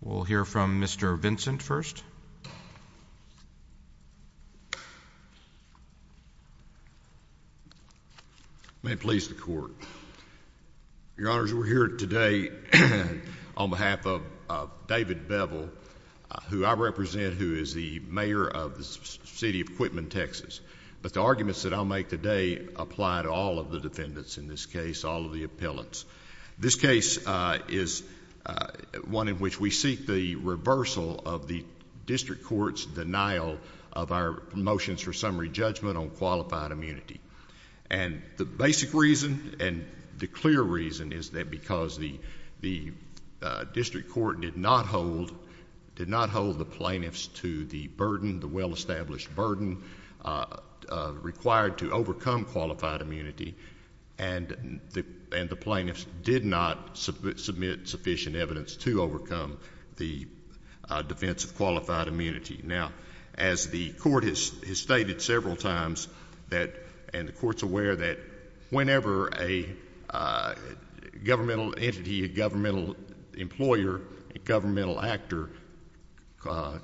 We'll hear from Mr. Vincent first. May it please the Court. Your Honors, we're here today on behalf of David Beville, who I represent, who is the mayor of the city of Quitman, Texas. But the arguments that I'll make today apply to all of the defendants in this case, all of the appellants. This case is one in which we seek the reversal of the district court's denial of our motions for summary judgment on qualified immunity. And the basic reason and the clear reason is that because the district court did not hold the plaintiffs to the burden, the well-established burden required to overcome qualified immunity, and the plaintiffs did not submit sufficient evidence to overcome the defense of qualified immunity. Now, as the Court has stated several times, and the Court's aware that whenever a governmental entity, a governmental employer, a governmental actor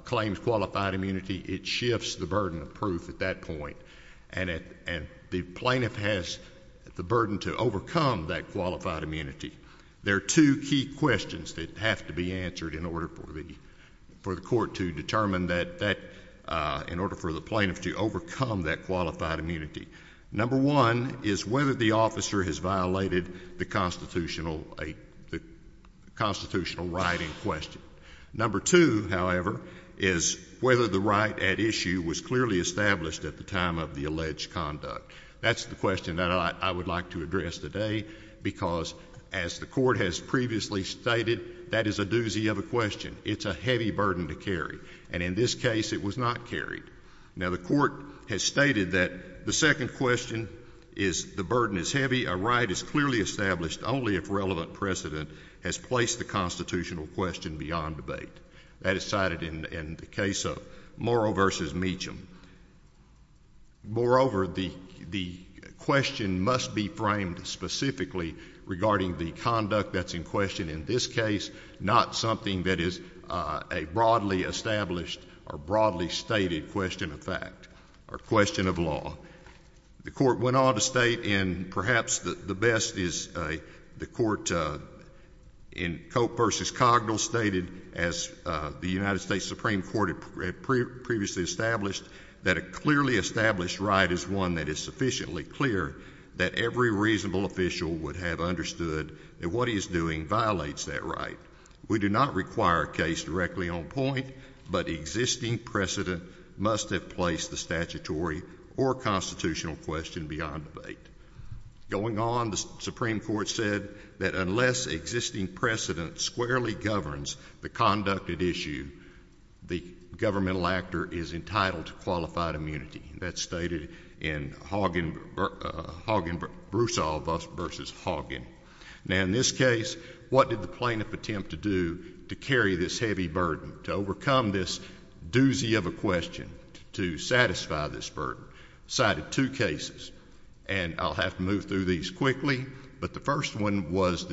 claims qualified immunity, it shifts the burden of proof at that point. And the plaintiff has the burden to overcome that qualified immunity. There are two key questions that have to be answered in order for the Court to determine that, in order for the plaintiff to overcome that qualified immunity. Number one is whether the officer has violated the constitutional right in question. Number two, however, is whether the right at issue was clearly established at the time of the alleged conduct. That's the question that I would like to address today because, as the Court has previously stated, that is a doozy of a question. It's a heavy burden to carry. And in this case, it was not carried. Now, the Court has stated that the second question is the burden is heavy, a right is clearly established only if relevant precedent has placed the constitutional question beyond debate. That is cited in the case of Morrow v. Meacham. Moreover, the question must be framed specifically regarding the conduct that's in question in this case, not something that is a broadly established or broadly stated question of fact or question of law. The Court went on to state, and perhaps the best is the Court in Cope v. Cogdell stated, as the United States Supreme Court had previously established, that a clearly established right is one that is sufficiently clear that every reasonable official would have understood that what he is doing violates that right. We do not require a case directly on point, but existing precedent must have placed the statutory or constitutional question beyond debate. Going on, the Supreme Court said that unless existing precedent squarely governs the conducted issue, the governmental actor is entitled to qualified immunity. That's stated in Hogan v. Broussard v. Hogan. Now, in this case, what did the plaintiff attempt to do to carry this heavy burden, to overcome this doozy of a question, to satisfy this burden? Cited two cases, and I'll have to move through these quickly. But the first one was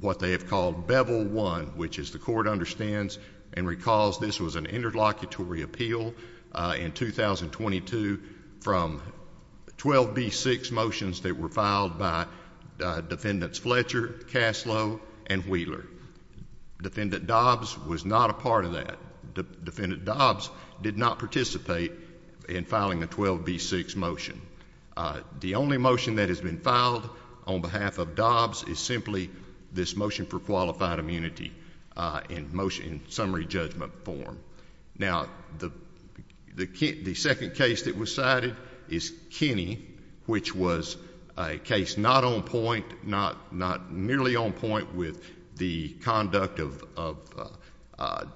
what they have called Bevel 1, which, as the Court understands and recalls, this was an interlocutory appeal in 2022 from 12b-6 motions that were filed by Defendants Fletcher, Caslow, and Wheeler. Defendant Dobbs was not a part of that. Defendant Dobbs did not participate in filing the 12b-6 motion. The only motion that has been filed on behalf of Dobbs is simply this motion for qualified immunity in summary judgment form. Now, the second case that was cited is Kenney, which was a case not on point, not nearly on point with the conduct of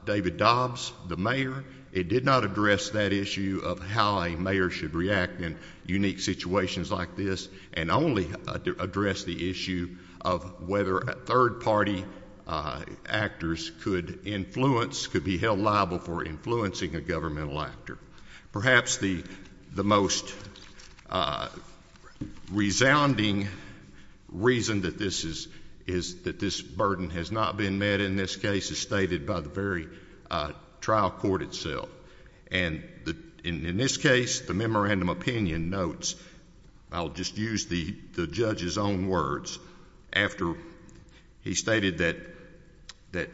David Dobbs, the mayor. It did not address that issue of how a mayor should react in unique situations like this, and only addressed the issue of whether third-party actors could influence, could be held liable for influencing a governmental actor. Perhaps the most resounding reason that this burden has not been met in this case is stated by the very trial court itself. And in this case, the memorandum of opinion notes, I'll just use the judge's own words, after he stated that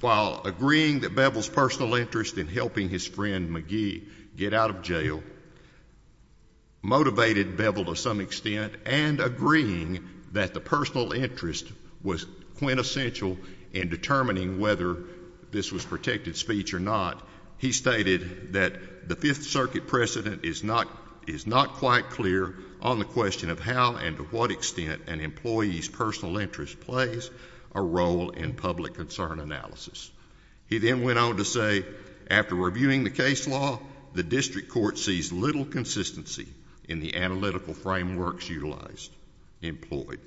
while agreeing that Bevel's personal interest in helping his friend McGee get out of jail motivated Bevel to some extent, and agreeing that the personal interest was quintessential in determining whether this was protected speech or not, he stated that the Fifth Circuit precedent is not quite clear on the question of how and to what extent an employee's personal interest plays a role in public concern analysis. He then went on to say, after reviewing the case law, the district court sees little consistency in the analytical frameworks utilized, employed.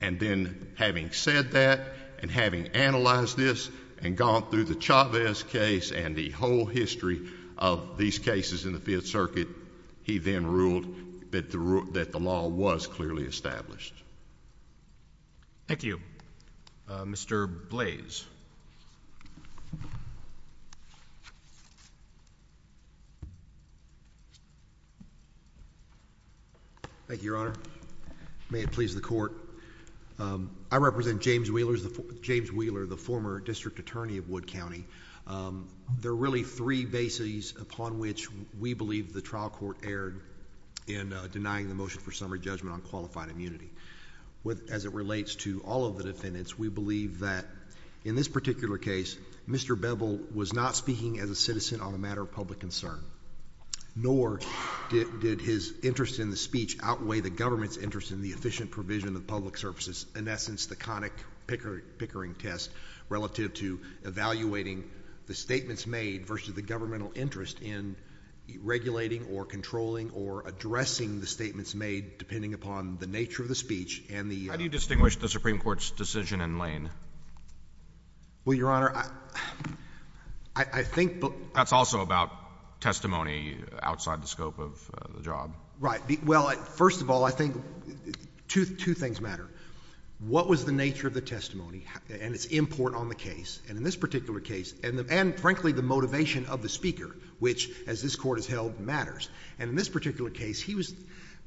And then, having said that, and having analyzed this, and gone through the Chavez case and the whole history of these cases in the Fifth Circuit, he then ruled that the law was clearly established. Thank you. Mr. Blaze. Thank you, Your Honor. May it please the Court. I represent James Wheeler, the former district attorney of Wood County. There are really three bases upon which we believe the trial court erred in denying the motion for summary judgment on qualified immunity. As it relates to all of the defendants, we believe that in this particular case, Mr. Bevel was not speaking as a citizen on the matter of public concern, nor did his interest in the speech outweigh the government's interest in the efficient provision of public services, in essence, the conic pickering test, relative to evaluating the statements made versus the governmental interest in regulating or controlling or addressing the statements made, depending upon the nature of the speech and the— How do you distinguish the Supreme Court's decision in Lane? Well, Your Honor, I think— That's also about testimony outside the scope of the job. Right. Well, first of all, I think two things matter. What was the nature of the testimony and its import on the case, and in this particular case—and, frankly, the motivation of the speaker, which, as this Court has held, matters. And in this particular case,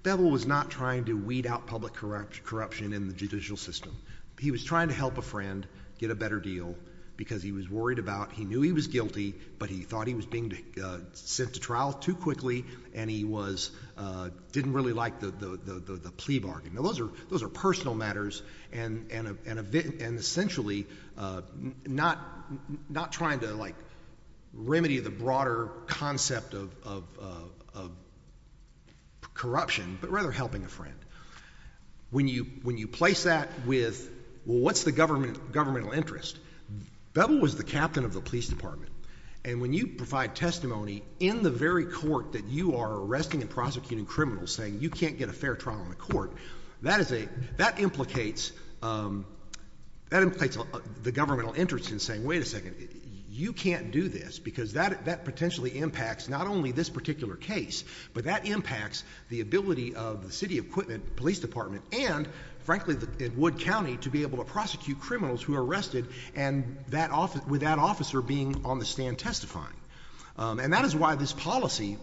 Bevel was not trying to weed out public corruption in the judicial system. He was trying to help a friend get a better deal because he was worried about—he knew he was guilty, but he thought he was being sent to trial too quickly, and he was—didn't really like the plea bargain. Now, those are personal matters, and, essentially, not trying to, like, remedy the broader concept of corruption, but rather helping a friend. When you place that with, well, what's the governmental interest? Bevel was the captain of the police department, and when you provide testimony in the very court that you are arresting and prosecuting criminals, saying you can't get a fair trial in the court, that is a—that implicates—that implicates the governmental interest in saying, wait a second, you can't do this because that potentially impacts not only this particular case, but that impacts the ability of the City of Quitman Police Department and, frankly, Wood County, to be able to prosecute criminals who are arrested and that—with that officer being on the stand testifying. And that is why this policy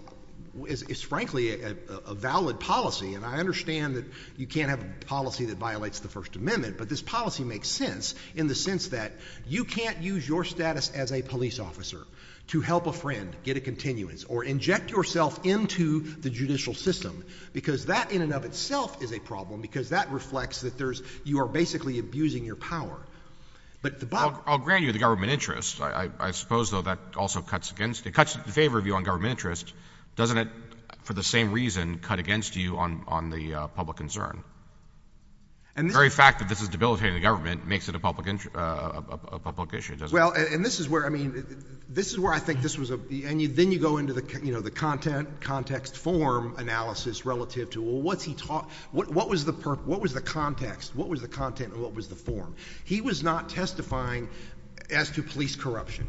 is, frankly, a valid policy. And I understand that you can't have a policy that violates the First Amendment, but this policy makes sense in the sense that you can't use your status as a police officer to help a friend get a continuance or inject yourself into the judicial system because that in and of itself is a problem because that reflects that there's—you are basically abusing your power. But the— I'll grant you the government interest. I suppose, though, that also cuts against—it cuts in favor of you on government interest. Doesn't it, for the same reason, cut against you on the public concern? And the very fact that this is debilitating the government makes it a public issue, doesn't it? Well, and this is where—I mean, this is where I think this was a— and then you go into the content, context, form analysis relative to, well, what's he—what was the context? What was the content and what was the form? He was not testifying as to police corruption.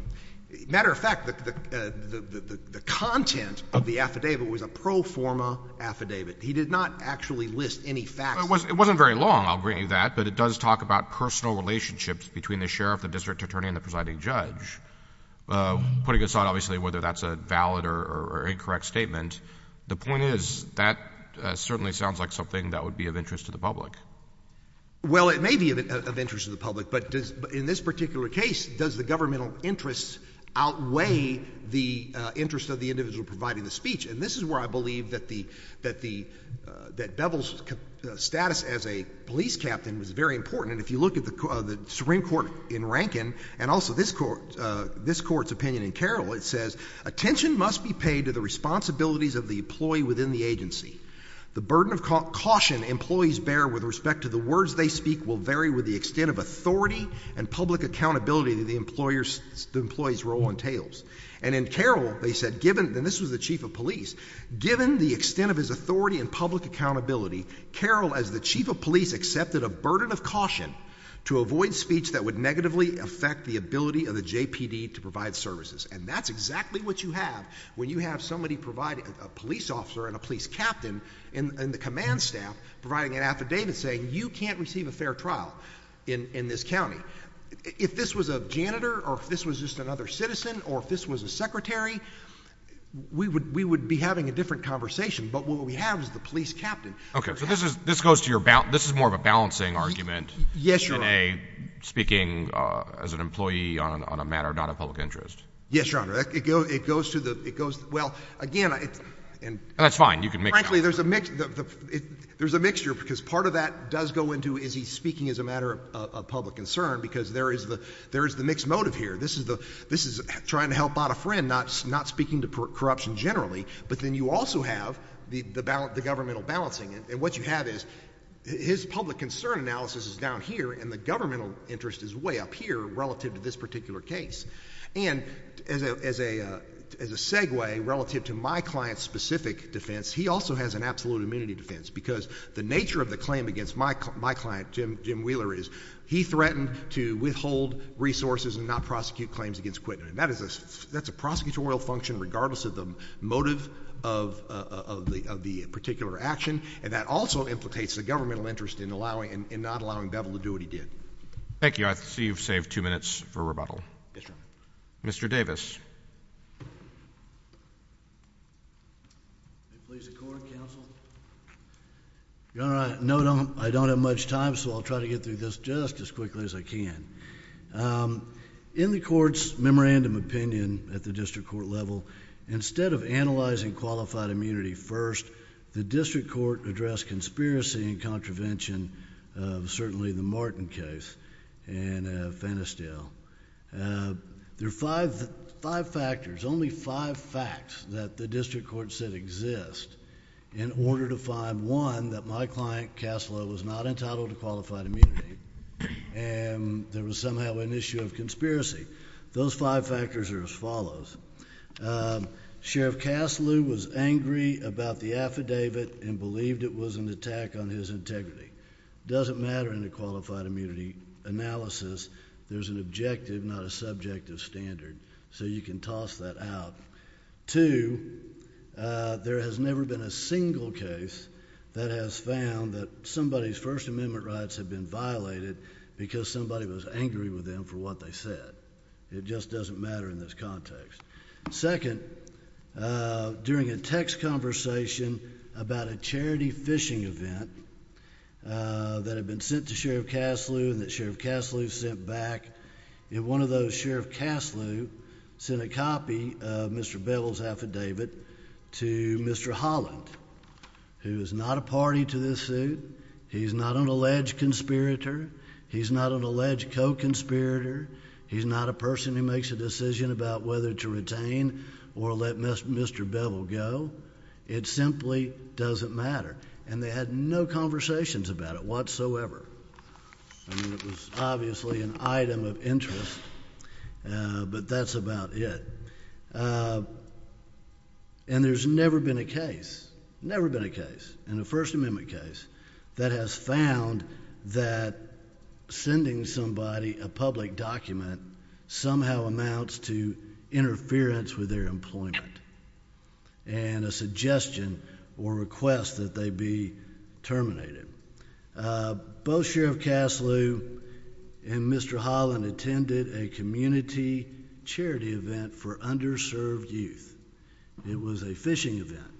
Matter of fact, the content of the affidavit was a pro forma affidavit. He did not actually list any facts. It wasn't very long. I'll grant you that. But it does talk about personal relationships between the sheriff, the district attorney, and the presiding judge, putting aside, obviously, whether that's a valid or incorrect statement. The point is that certainly sounds like something that would be of interest to the public. Well, it may be of interest to the public, but in this particular case, does the governmental interest outweigh the interest of the individual providing the speech? And this is where I believe that the—that Bevel's status as a police captain was very important. And if you look at the Supreme Court in Rankin and also this Court's opinion in Carroll, it says, attention must be paid to the responsibilities of the employee within the agency. The burden of caution employees bear with respect to the words they speak will vary with the extent of authority and public accountability that the employer's—the employee's role entails. And in Carroll, they said, given—and this was the chief of police— given the extent of his authority and public accountability, Carroll, as the chief of police, accepted a burden of caution to avoid speech that would negatively affect the ability of the JPD to provide services. And that's exactly what you have when you have somebody provide—a police officer and a police captain and the command staff providing an affidavit saying you can't receive a fair trial in this county. If this was a janitor or if this was just another citizen or if this was a secretary, we would—we would be having a different conversation. But what we have is the police captain. Okay. So this is—this goes to your—this is more of a balancing argument. Yes, Your Honor. In a—speaking as an employee on a matter not of public interest. Yes, Your Honor. It goes to the—it goes—well, again, it's— That's fine. You can mix it up. Frankly, there's a mix—there's a mixture because part of that does go into is he's speaking as a matter of public concern because there is the—there is the mixed motive here. This is the—this is trying to help out a friend, not speaking to corruption generally. But then you also have the governmental balancing. And what you have is his public concern analysis is down here and the governmental interest is way up here relative to this particular case. And as a segue relative to my client's specific defense, he also has an absolute immunity defense because the nature of the claim against my client, Jim Wheeler, is he threatened to withhold resources and not prosecute claims against Quintin. And that is a—that's a prosecutorial function regardless of the motive of the particular action. And that also implicates the governmental interest in allowing—in not allowing Bevel to do what he did. Thank you. I see you've saved two minutes for rebuttal. Yes, Your Honor. Mr. Davis. May it please the court, counsel? Your Honor, I—no, I don't have much time, so I'll try to get through this just as quickly as I can. In the court's memorandum opinion at the district court level, instead of analyzing qualified immunity first, the district court addressed conspiracy and contravention of certainly the Martin case and Fannisdale. There are five factors, only five facts that the district court said exist in order to find, one, that my client, Kaslow, was not entitled to qualified immunity and there was somehow an issue of conspiracy. Those five factors are as follows. Sheriff Kaslow was angry about the affidavit and believed it was an attack on his integrity. It doesn't matter in a qualified immunity analysis. There's an objective, not a subjective standard, so you can toss that out. Two, there has never been a single case that has found that somebody's First Amendment rights have been violated because somebody was angry with them for what they said. It just doesn't matter in this context. Second, during a text conversation about a charity fishing event that had been sent to Sheriff Kaslow and that Sheriff Kaslow sent back, one of those Sheriff Kaslow sent a copy of Mr. Bevel's affidavit to Mr. Holland, who is not a party to this suit. He's not an alleged conspirator. He's not an alleged co-conspirator. He's not a person who makes a decision about whether to retain or let Mr. Bevel go. It simply doesn't matter, and they had no conversations about it whatsoever. I mean, it was obviously an item of interest, but that's about it. And there's never been a case, never been a case in a First Amendment case, that has found that sending somebody a public document somehow amounts to interference with their employment and a suggestion or request that they be terminated. Both Sheriff Kaslow and Mr. Holland attended a community charity event for underserved youth. It was a fishing event.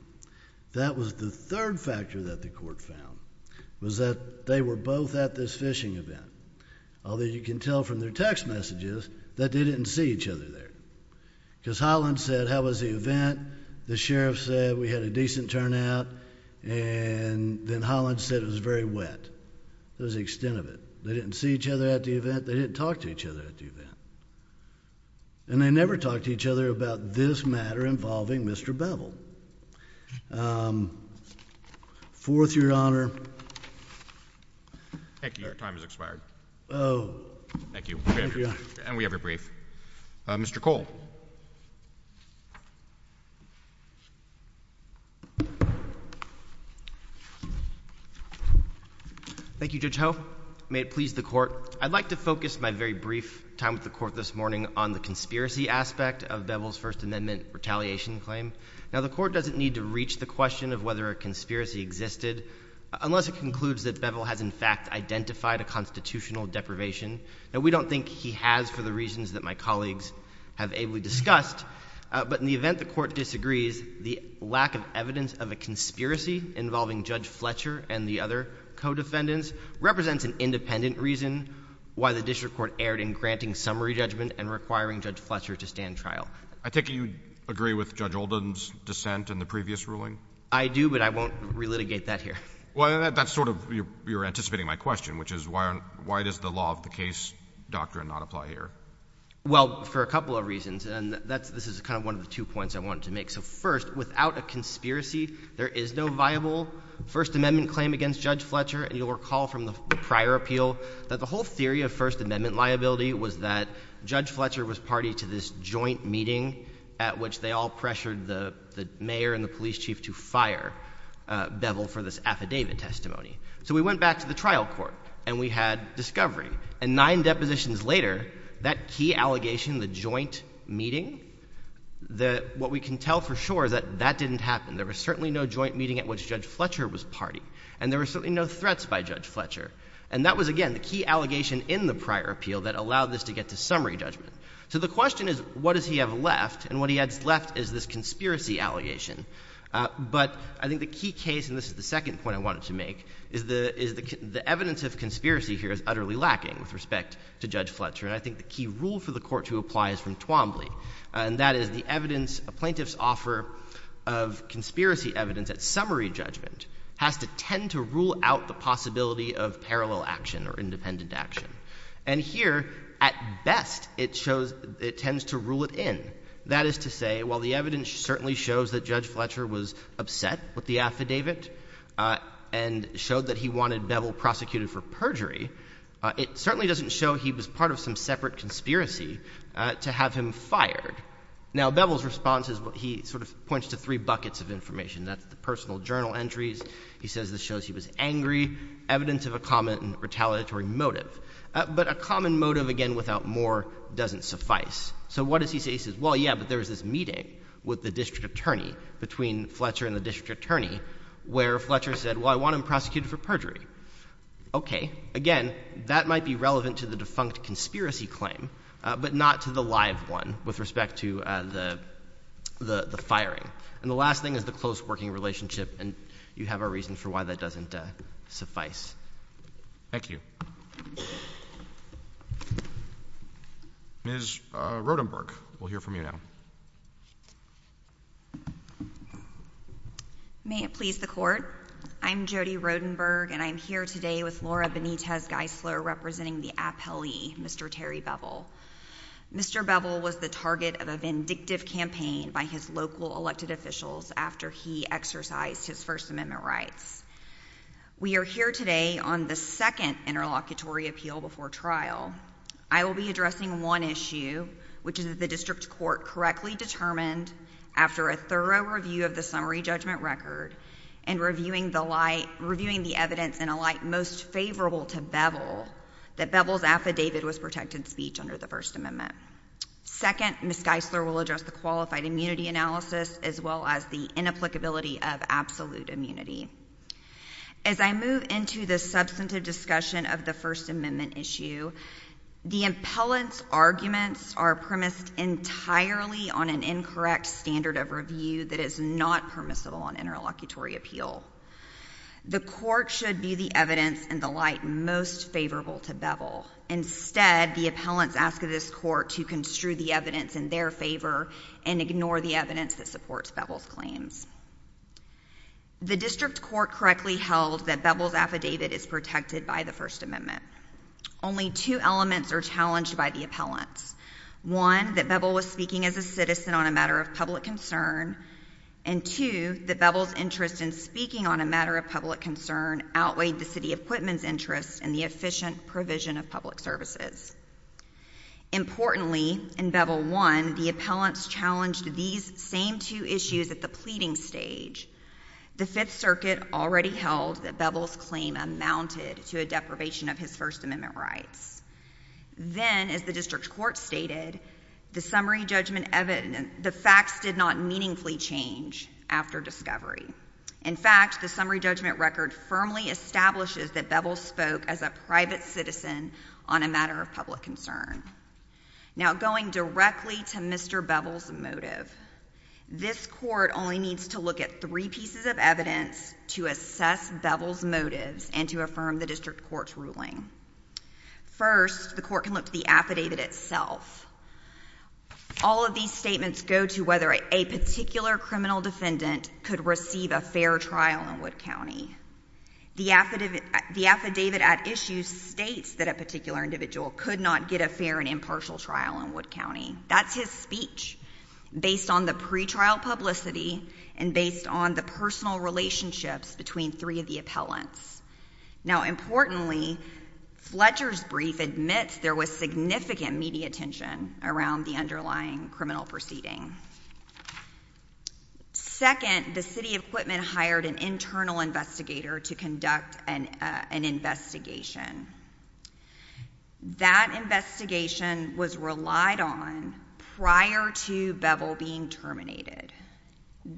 That was the third factor that the court found was that they were both at this fishing event, although you can tell from their text messages that they didn't see each other there because Holland said, how was the event? The Sheriff said we had a decent turnout, and then Holland said it was very wet. That was the extent of it. They didn't see each other at the event. They didn't talk to each other at the event. And they never talked to each other about this matter involving Mr. Bevel. Fourth, Your Honor. Thank you. Your time has expired. Oh. Thank you. And we have your brief. Mr. Cole. Thank you, Judge Ho. May it please the Court. I'd like to focus my very brief time with the Court this morning on the conspiracy aspect of Bevel's First Amendment retaliation claim. Now, the Court doesn't need to reach the question of whether a conspiracy existed unless it concludes that Bevel has in fact identified a constitutional deprivation. Now, we don't think he has for the reasons that my colleagues have ably discussed. But in the event the Court disagrees, the lack of evidence of a conspiracy involving Judge Fletcher and the other co-defendants represents an independent reason why the district court erred in granting summary judgment and requiring Judge Fletcher to stand trial. I take it you agree with Judge Oldham's dissent in the previous ruling? I do, but I won't relitigate that here. Well, that's sort of you're anticipating my question, which is why does the law of the case doctrine not apply here? Well, for a couple of reasons, and this is kind of one of the two points I wanted to make. So first, without a conspiracy, there is no viable First Amendment claim against Judge Fletcher. And you'll recall from the prior appeal that the whole theory of First Amendment liability was that Judge Fletcher was party to this joint meeting at which they all pressured the mayor and the police chief to fire Bevel for this affidavit testimony. So we went back to the trial court, and we had discovery. And nine depositions later, that key allegation, the joint meeting, what we can tell for sure is that that didn't happen. There was certainly no joint meeting at which Judge Fletcher was party. And there were certainly no threats by Judge Fletcher. And that was, again, the key allegation in the prior appeal that allowed this to get to summary judgment. So the question is, what does he have left? And what he has left is this conspiracy allegation. But I think the key case, and this is the second point I wanted to make, is the evidence of conspiracy here is utterly lacking with respect to Judge Fletcher. And I think the key rule for the Court to apply is from Twombly. And that is the evidence a plaintiff's offer of conspiracy evidence at summary judgment has to tend to rule out the possibility of parallel action or independent action. And here, at best, it tends to rule it in. That is to say, while the evidence certainly shows that Judge Fletcher was upset with the affidavit and showed that he wanted Bevel prosecuted for perjury, it certainly doesn't show he was part of some separate conspiracy to have him fired. Now, Bevel's response is what he sort of points to three buckets of information. That's the personal journal entries. He says this shows he was angry, evidence of a common retaliatory motive. But a common motive, again, without more doesn't suffice. So what does he say? He says, well, yeah, but there was this meeting with the district attorney between Fletcher and the district attorney where Fletcher said, well, I want him prosecuted for perjury. Okay. Again, that might be relevant to the defunct conspiracy claim, but not to the live one with respect to the firing. And the last thing is the close working relationship, and you have a reason for why that doesn't suffice. Thank you. Ms. Rodenberg, we'll hear from you now. May it please the Court, I'm Jody Rodenberg, and I'm here today with Laura Benitez Geisler representing the appellee, Mr. Terry Bevel. Mr. Bevel was the target of a vindictive campaign by his local elected officials after he exercised his First Amendment rights. We are here today on the second interlocutory appeal before trial. I will be addressing one issue, which is that the district court correctly determined after a thorough review of the summary judgment record and reviewing the evidence in a light most favorable to Bevel that Bevel's affidavit was protected speech under the First Amendment. Second, Ms. Geisler will address the qualified immunity analysis as well as the inapplicability of absolute immunity. As I move into the substantive discussion of the First Amendment issue, the appellant's arguments are premised entirely on an incorrect standard of review that is not permissible on interlocutory appeal. The court should view the evidence in the light most favorable to Bevel. Instead, the appellants ask of this court to construe the evidence in their favor and ignore the evidence that supports Bevel's claims. The district court correctly held that Bevel's affidavit is protected by the First Amendment. Only two elements are challenged by the appellants. One, that Bevel was speaking as a citizen on a matter of public concern. And two, that Bevel's interest in speaking on a matter of public concern outweighed the city equipment's interest in the efficient provision of public services. Importantly, in Bevel I, the appellants challenged these same two issues at the pleading stage. The Fifth Circuit already held that Bevel's claim amounted to a deprivation of his First Amendment rights. Then, as the district court stated, the summary judgment evidence—the facts did not meaningfully change after discovery. In fact, the summary judgment record firmly establishes that Bevel spoke as a private citizen on a matter of public concern. Now, going directly to Mr. Bevel's motive, this court only needs to look at three pieces of evidence to assess Bevel's motives and to affirm the district court's ruling. First, the court can look to the affidavit itself. All of these statements go to whether a particular criminal defendant could receive a fair trial in Wood County. The affidavit at issue states that a particular individual could not get a fair and impartial trial in Wood County. That's his speech, based on the pretrial publicity and based on the personal relationships between three of the appellants. Now, importantly, Fletcher's brief admits there was significant media attention around the underlying criminal proceeding. Second, the city of Quitman hired an internal investigator to conduct an investigation. That investigation was relied on prior to Bevel being terminated.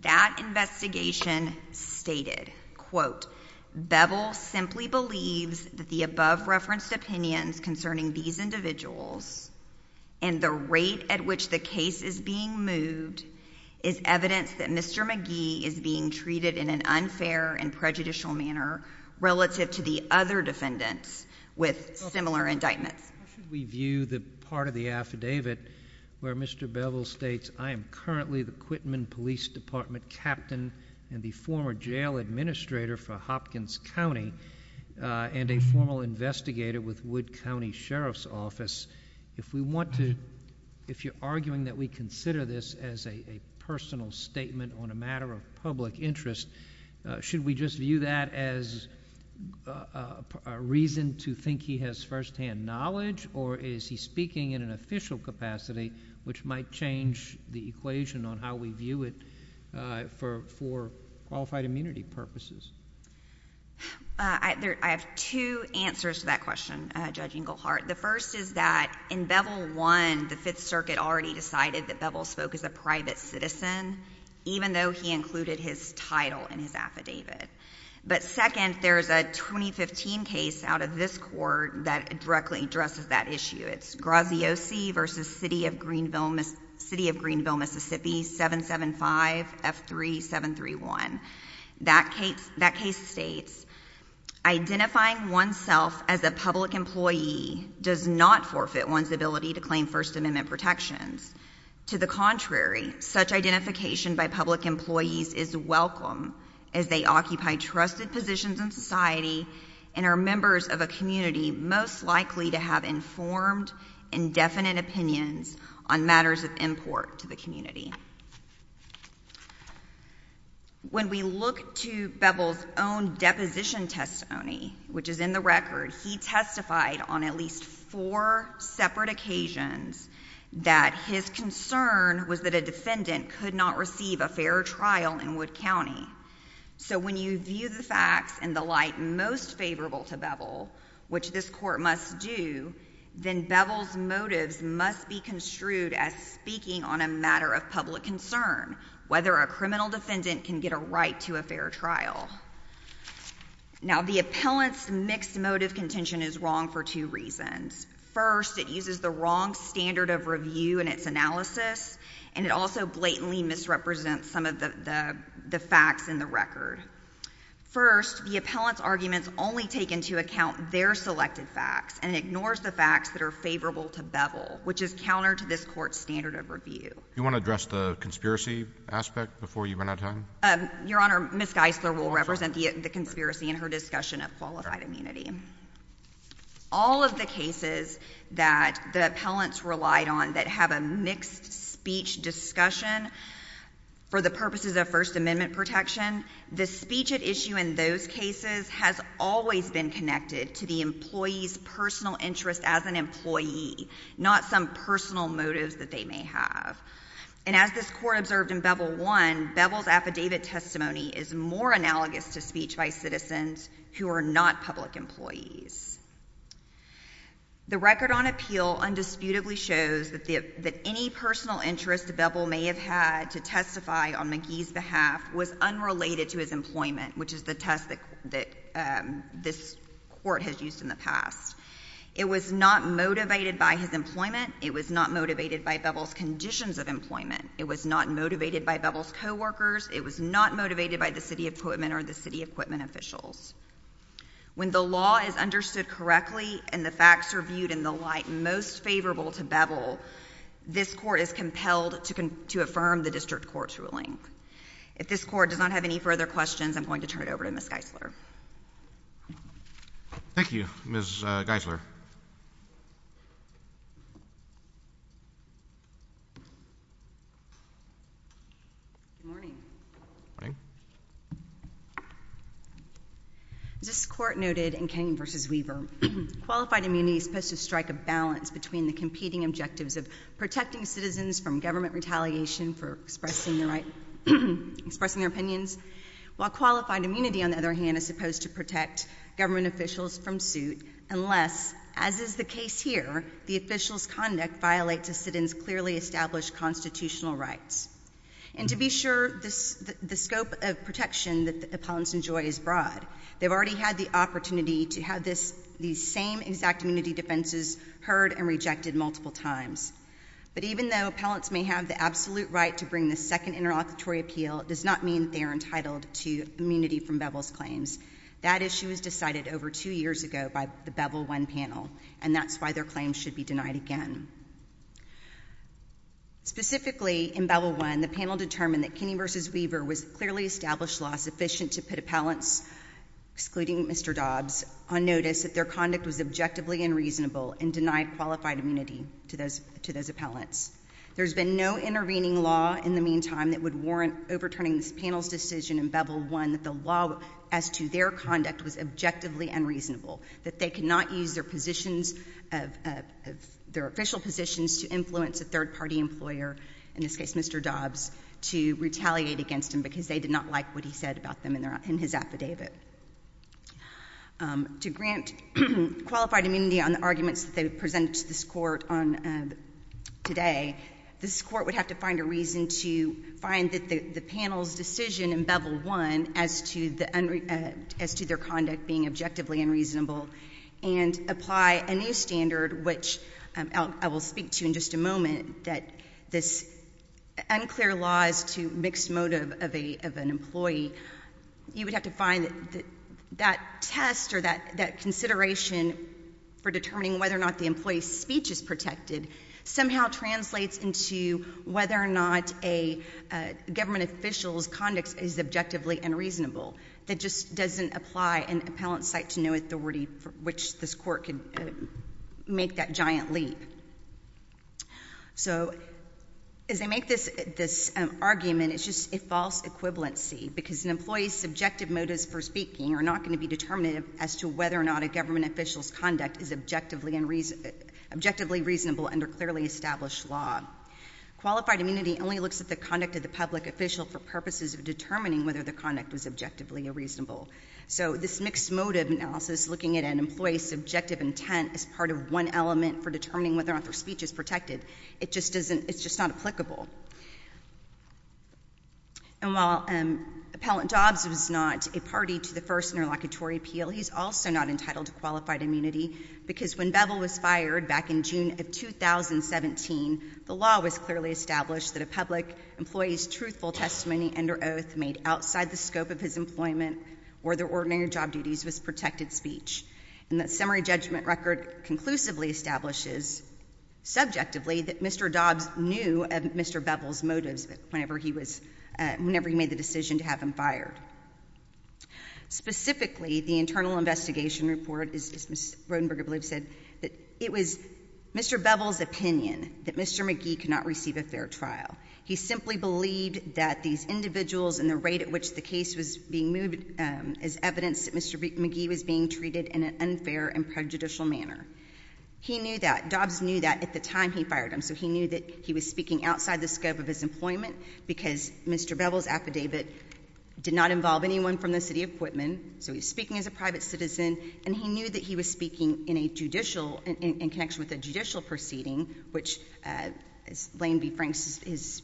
That investigation stated, quote, Bevel simply believes that the above-referenced opinions concerning these individuals and the rate at which the case is being moved is evidence that Mr. Magee is being treated in an unfair and prejudicial manner relative to the other defendants with similar indictments. How should we view the part of the affidavit where Mr. Bevel states, I am currently the Quitman Police Department captain and the former jail administrator for Hopkins County and a formal investigator with Wood County Sheriff's Office? If we want to, if you're arguing that we consider this as a personal statement on a matter of public interest, should we just view that as a reason to think he has firsthand knowledge, or is he speaking in an official capacity which might change the equation on how we view it for qualified immunity purposes? I have two answers to that question, Judge Englehart. The first is that in Bevel I, the Fifth Circuit already decided that Bevel spoke as a private citizen, even though he included his title in his affidavit. But second, there is a 2015 case out of this court that directly addresses that issue. It's Graziosi v. City of Greenville, Mississippi, 775F3731. That case states, identifying oneself as a public employee does not forfeit one's ability to claim First Amendment protections. To the contrary, such identification by public employees is welcome as they occupy trusted positions in society and are members of a community most likely to have informed, indefinite opinions on matters of import to the community. When we look to Bevel's own deposition testimony, which is in the record, he testified on at least four separate occasions that his concern was that a defendant could not receive a fair trial in Wood County. So when you view the facts in the light most favorable to Bevel, which this court must do, then Bevel's motives must be construed as speaking on a matter of public concern, whether a criminal defendant can get a right to a fair trial. Now, the appellant's mixed motive contention is wrong for two reasons. First, it uses the wrong standard of review in its analysis, and it also blatantly misrepresents some of the facts in the record. First, the appellant's arguments only take into account their selected facts and ignores the facts that are favorable to Bevel, which is counter to this court's standard of review. You want to address the conspiracy aspect before you run out of time? Your Honor, Ms. Geisler will represent the conspiracy in her discussion of qualified immunity. All of the cases that the appellants relied on that have a mixed speech discussion for the purposes of First Amendment protection, the speech at issue in those cases has always been connected to the employee's personal interest as an employee, not some personal motives that they may have. And as this court observed in Bevel I, Bevel's affidavit testimony is more analogous to speech by citizens who are not public employees. The record on appeal undisputedly shows that any personal interest Bevel may have had to testify on McGee's behalf was unrelated to his employment, which is the test that this court has used in the past. It was not motivated by his employment. It was not motivated by Bevel's conditions of employment. It was not motivated by Bevel's coworkers. It was not motivated by the city equipment or the city equipment officials. When the law is understood correctly and the facts are viewed in the light most favorable to Bevel, this court is compelled to affirm the district court's ruling. If this court does not have any further questions, I'm going to turn it over to Ms. Geisler. Thank you, Ms. Geisler. Good morning. Morning. As this court noted in Kenyon v. Weaver, qualified immunity is supposed to strike a balance between the competing objectives of protecting citizens from government retaliation for expressing their opinions, while qualified immunity, on the other hand, is supposed to protect government officials from suit unless, as is the case here, the officials' conduct violates a citizen's clearly established constitutional rights. And to be sure, the scope of protection that the appellants enjoy is broad. They've already had the opportunity to have these same exact immunity defenses heard and rejected multiple times. But even though appellants may have the absolute right to bring the second interlocutory appeal, it does not mean they are entitled to immunity from Bevel's claims. That issue was decided over two years ago by the Bevel I panel, and that's why their claims should be denied again. Specifically, in Bevel I, the panel determined that Kenyon v. Weaver was clearly established law sufficient to put appellants, excluding Mr. Dobbs, on notice that their conduct was objectively unreasonable and denied qualified immunity to those appellants. There's been no intervening law in the meantime that would warrant overturning this panel's decision in Bevel I that the law as to their conduct was objectively unreasonable, that they could not use their positions, their official positions to influence a third-party employer, in this case Mr. Dobbs, to retaliate against him because they did not like what he said about them in his affidavit. To grant qualified immunity on the arguments that they presented to this Court today, this Court would have to find a reason to find that the panel's decision in Bevel I as to their conduct being objectively unreasonable and apply a new standard, which I will speak to in just a moment, that this unclear laws to mixed motive of an employee, you would have to find that that test or that consideration for determining whether or not the employee's speech is protected somehow translates into whether or not a government official's conduct is objectively unreasonable. That just doesn't apply in appellant's site to no authority for which this Court can make that giant leap. So as they make this argument, it's just a false equivalency because an employee's subjective motives for speaking are not going to be determinative as to whether or not a government official's conduct is objectively reasonable under clearly established law. Qualified immunity only looks at the conduct of the public official for purposes of determining whether their conduct was objectively unreasonable. So this mixed motive analysis, looking at an employee's subjective intent as part of one element for determining whether or not their speech is protected, it just doesn't, it's just not applicable. And while Appellant Dobbs was not a party to the first interlocutory appeal, he's also not entitled to qualified immunity because when Bevel was fired back in June of 2017, the law was clearly established that a public employee's truthful testimony under oath made outside the scope of his employment or their ordinary job duties was protected speech. And that summary judgment record conclusively establishes subjectively that Mr. Dobbs knew of Mr. Bevel's motives whenever he was, whenever he made the decision to have him fired. Specifically, the internal investigation report, as Ms. Rodenberg, I believe, said, that it was Mr. Bevel's opinion that Mr. McGee could not receive a fair trial. He simply believed that these individuals and the rate at which the case was being moved is evidence that Mr. McGee was being treated in an unfair and prejudicial manner. He knew that. Dobbs knew that at the time he fired him, so he knew that he was speaking outside the scope of his employment because Mr. Bevel's affidavit did not involve anyone from the city of Quitman, so he was speaking as a private citizen, and he knew that he was speaking in a judicial, in connection with a judicial proceeding, which as Lane B. Franks has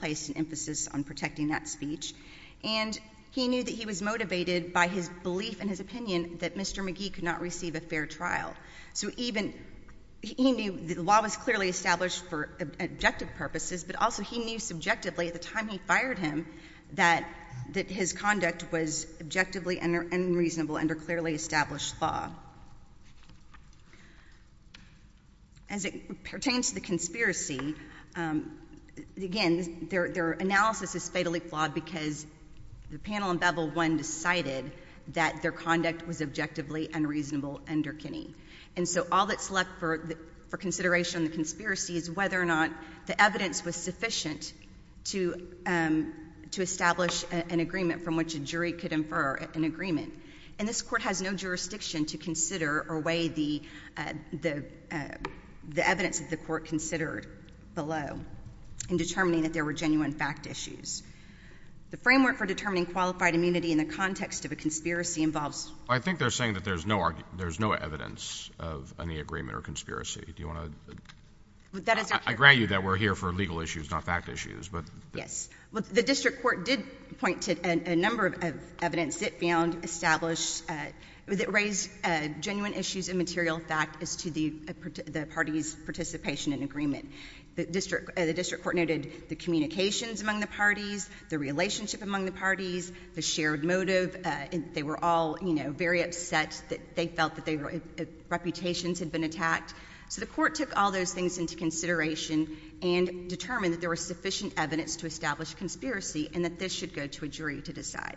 placed an emphasis on protecting that speech. And he knew that he was motivated by his belief and his opinion that Mr. McGee could not receive a fair trial. So even, he knew the law was clearly established for objective purposes, but also he knew subjectively at the time he fired him that his conduct was objectively unreasonable under clearly established law. As it pertains to the conspiracy, again, their analysis is fatally flawed because the panel in Bevel 1 decided that their conduct was objectively unreasonable under Kinney. And so all that's left for consideration in the conspiracy is whether or not the evidence was sufficient to establish an agreement from which a jury could infer an agreement. And this Court has no jurisdiction to consider or weigh the evidence that the Court considered below in determining that there were genuine fact issues. The framework for determining qualified immunity in the context of a conspiracy involves— I think they're saying that there's no evidence of any agreement or conspiracy. Do you want to— That is— I grant you that we're here for legal issues, not fact issues, but— Yes. The district court did point to a number of evidence it found established, that raised genuine issues and material fact as to the party's participation in agreement. The district court noted the communications among the parties, the relationship among the parties, the shared motive. They were all very upset that they felt that reputations had been attacked. So the Court took all those things into consideration and determined that there was sufficient evidence to establish a conspiracy and that this should go to a jury to decide.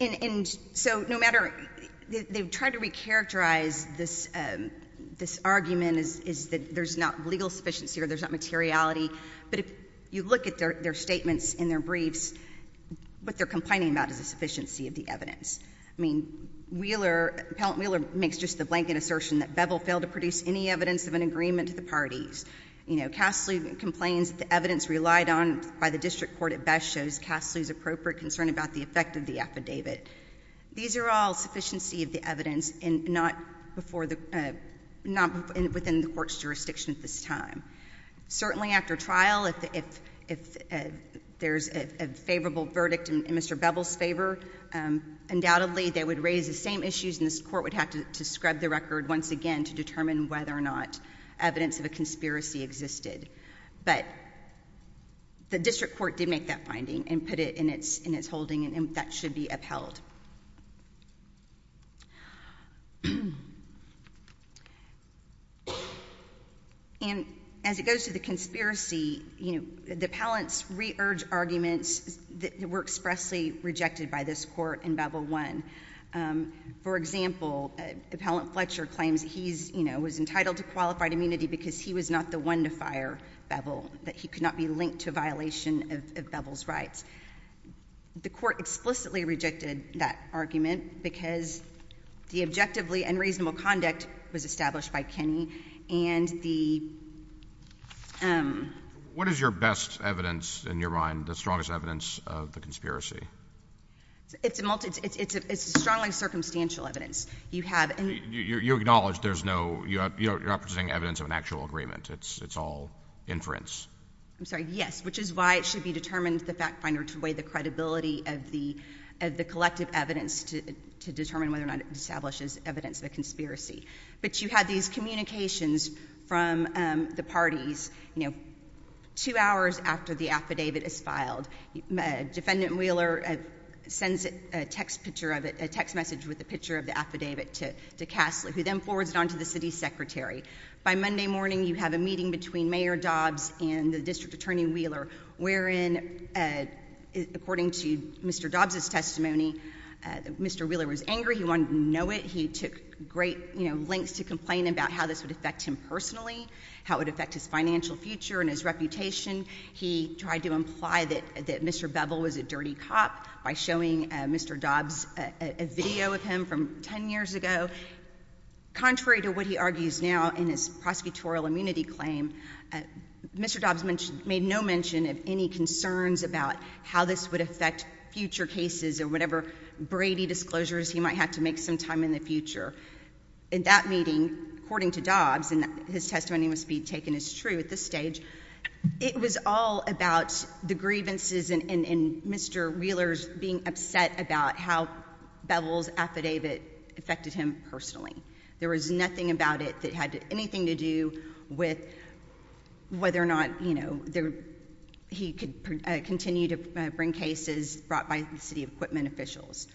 And so no matter—they've tried to recharacterize this argument as that there's not legal sufficiency or there's not materiality. But if you look at their statements in their briefs, what they're complaining about is the sufficiency of the evidence. I mean, Wheeler—Appellant Wheeler makes just the blanket assertion that Bevel failed to produce any evidence of an agreement to the parties. You know, Cassidy complains that the evidence relied on by the district court at best shows Cassidy's appropriate concern about the effect of the affidavit. These are all sufficiency of the evidence and not within the Court's jurisdiction at this time. Certainly after trial, if there's a favorable verdict in Mr. Bevel's favor, undoubtedly they would raise the same issues and this Court would have to scrub the record once again to determine whether or not evidence of a conspiracy existed. But the district court did make that finding and put it in its holding and that should be upheld. And as it goes to the conspiracy, the appellants re-urge arguments that were expressly rejected by this Court in Bevel I. For example, Appellant Fletcher claims he was entitled to qualified immunity because he was not the one to fire Bevel, that he could not be linked to a violation of Bevel's rights. The Court explicitly rejected that argument because the objectively and reasonable conduct was established by Kenney and the— What is your best evidence in your mind, the strongest evidence of the conspiracy? It's a strongly circumstantial evidence. You acknowledge there's no—you're not presenting evidence of an actual agreement. It's all inference. I'm sorry, yes, which is why it should be determined the fact finder to weigh the credibility of the collective evidence to determine whether or not it establishes evidence of a conspiracy. But you had these communications from the parties, Defendant Wheeler sends a text picture of it, a text message with a picture of the affidavit to Cassley, who then forwards it on to the city secretary. By Monday morning, you have a meeting between Mayor Dobbs and the District Attorney Wheeler, wherein, according to Mr. Dobbs' testimony, Mr. Wheeler was angry. He wanted to know it. He took great lengths to complain about how this would affect him personally, how it would affect his financial future and his reputation. He tried to imply that Mr. Bevel was a dirty cop by showing Mr. Dobbs a video of him from 10 years ago. Contrary to what he argues now in his prosecutorial immunity claim, Mr. Dobbs made no mention of any concerns about how this would affect future cases or whatever Brady disclosures he might have to make sometime in the future. In that meeting, according to Dobbs, and his testimony must be taken as true at this stage, it was all about the grievances and Mr. Wheeler's being upset about how Bevel's affidavit affected him personally. There was nothing about it that had anything to do with whether or not, you know, he could continue to bring cases brought by the city equipment officials.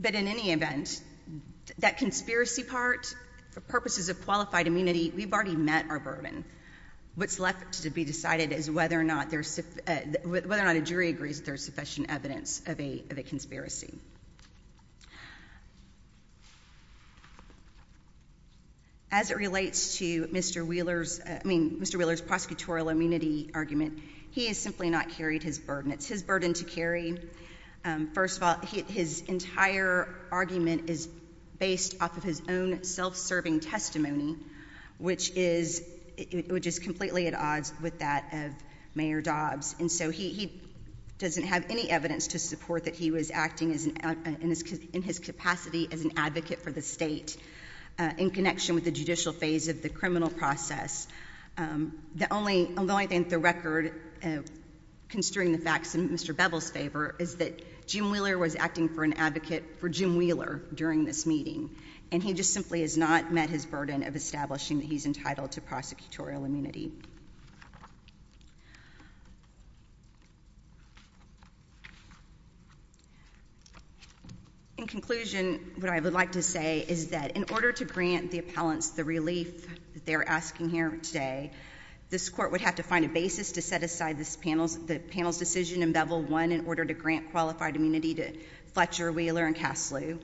But in any event, that conspiracy part, for purposes of qualified immunity, we've already met our bourbon. What's left to be decided is whether or not a jury agrees there's sufficient evidence of a conspiracy. As it relates to Mr. Wheeler's, I mean, Mr. Wheeler's prosecutorial immunity argument, he has simply not carried his burden. It's his burden to carry. First of all, his entire argument is based off of his own self-serving testimony, which is completely at odds with that of Mayor Dobbs. And so he doesn't have any evidence to support that he was acting in his capacity as an advocate for the state in connection with the judicial phase of the criminal process. The only, although I think the record constrain the facts in Mr. Bevel's favor, is that Jim Wheeler was acting for an advocate for Jim Wheeler during this meeting. And he just simply has not met his burden of establishing that he's entitled to prosecutorial immunity. In conclusion, what I would like to say is that in order to grant the appellants the relief that they're asking here today, this court would have to find a basis to set aside the panel's decision in Bevel 1 in order to grant qualified immunity to Fletcher, Wheeler, and Kaslu.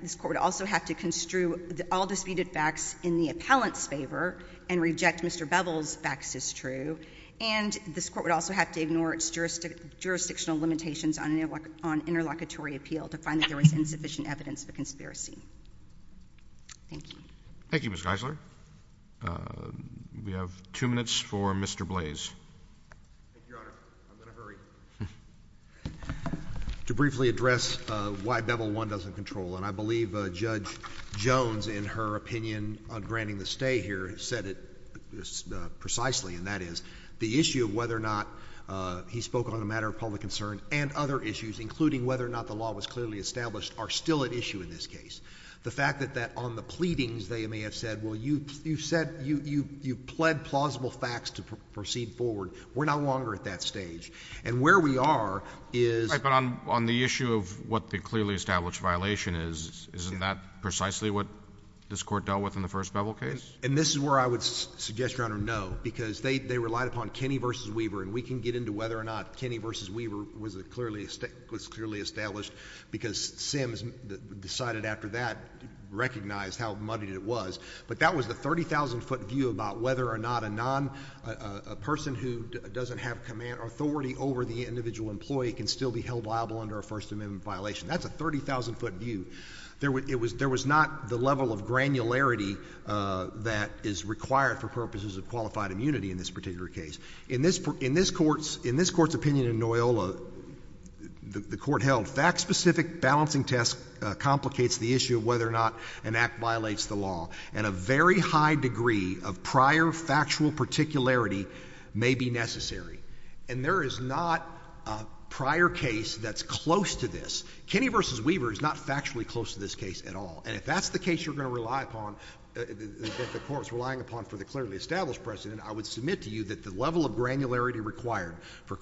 This court would also have to construe all disputed facts in the appellant's favor and reject Mr. Bevel's facts as true. And this court would also have to ignore its jurisdictional limitations on interlocutory appeal to find that there was insufficient evidence of a conspiracy. Thank you. Thank you, Ms. Geisler. We have two minutes for Mr. Blase. Thank you, Your Honor. I'm in a hurry. To briefly address why Bevel 1 doesn't control, and I believe Judge Jones in her opinion on granting the stay here said it precisely, and that is the issue of whether or not he spoke on a matter of public concern and other issues, including whether or not the law was clearly established, are still at issue in this case. The fact that on the pleadings they may have said, well, you said you pled plausible facts to proceed forward. We're no longer at that stage. And where we are is— Right, but on the issue of what the clearly established violation is, isn't that precisely what this court dealt with in the first Bevel case? And this is where I would suggest, Your Honor, no, because they relied upon Kenney v. Weaver, and we can get into whether or not Kenney v. Weaver was clearly established because Sims decided after that, recognized how muddy it was. But that was the 30,000-foot view about whether or not a person who doesn't have authority over the individual employee can still be held liable under a First Amendment violation. That's a 30,000-foot view. There was not the level of granularity that is required for purposes of qualified immunity in this particular case. In this Court's opinion in Noyola, the Court held, fact-specific balancing test complicates the issue of whether or not an act violates the law, and a very high degree of prior factual particularity may be necessary. And there is not a prior case that's close to this. Kenney v. Weaver is not factually close to this case at all. And if that's the case you're going to rely upon, that the Court's relying upon for the clearly established precedent, I would submit to you that the level of granularity required for the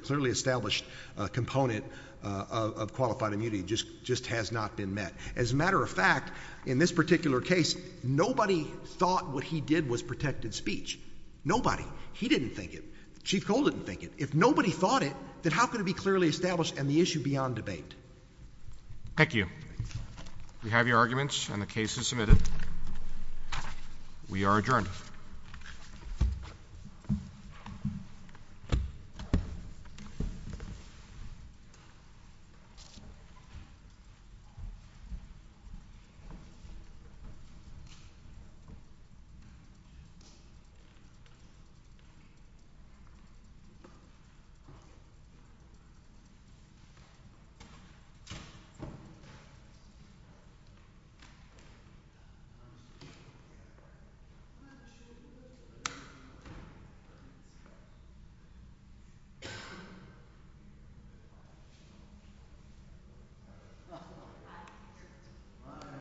clearly established component of qualified immunity just has not been met. As a matter of fact, in this particular case, nobody thought what he did was protected speech. Nobody. He didn't think it. Chief Cole didn't think it. If nobody thought it, then how could it be clearly established and the issue be on debate? Thank you. We have your arguments, and the case is submitted. We are adjourned. Thank you. Thank you.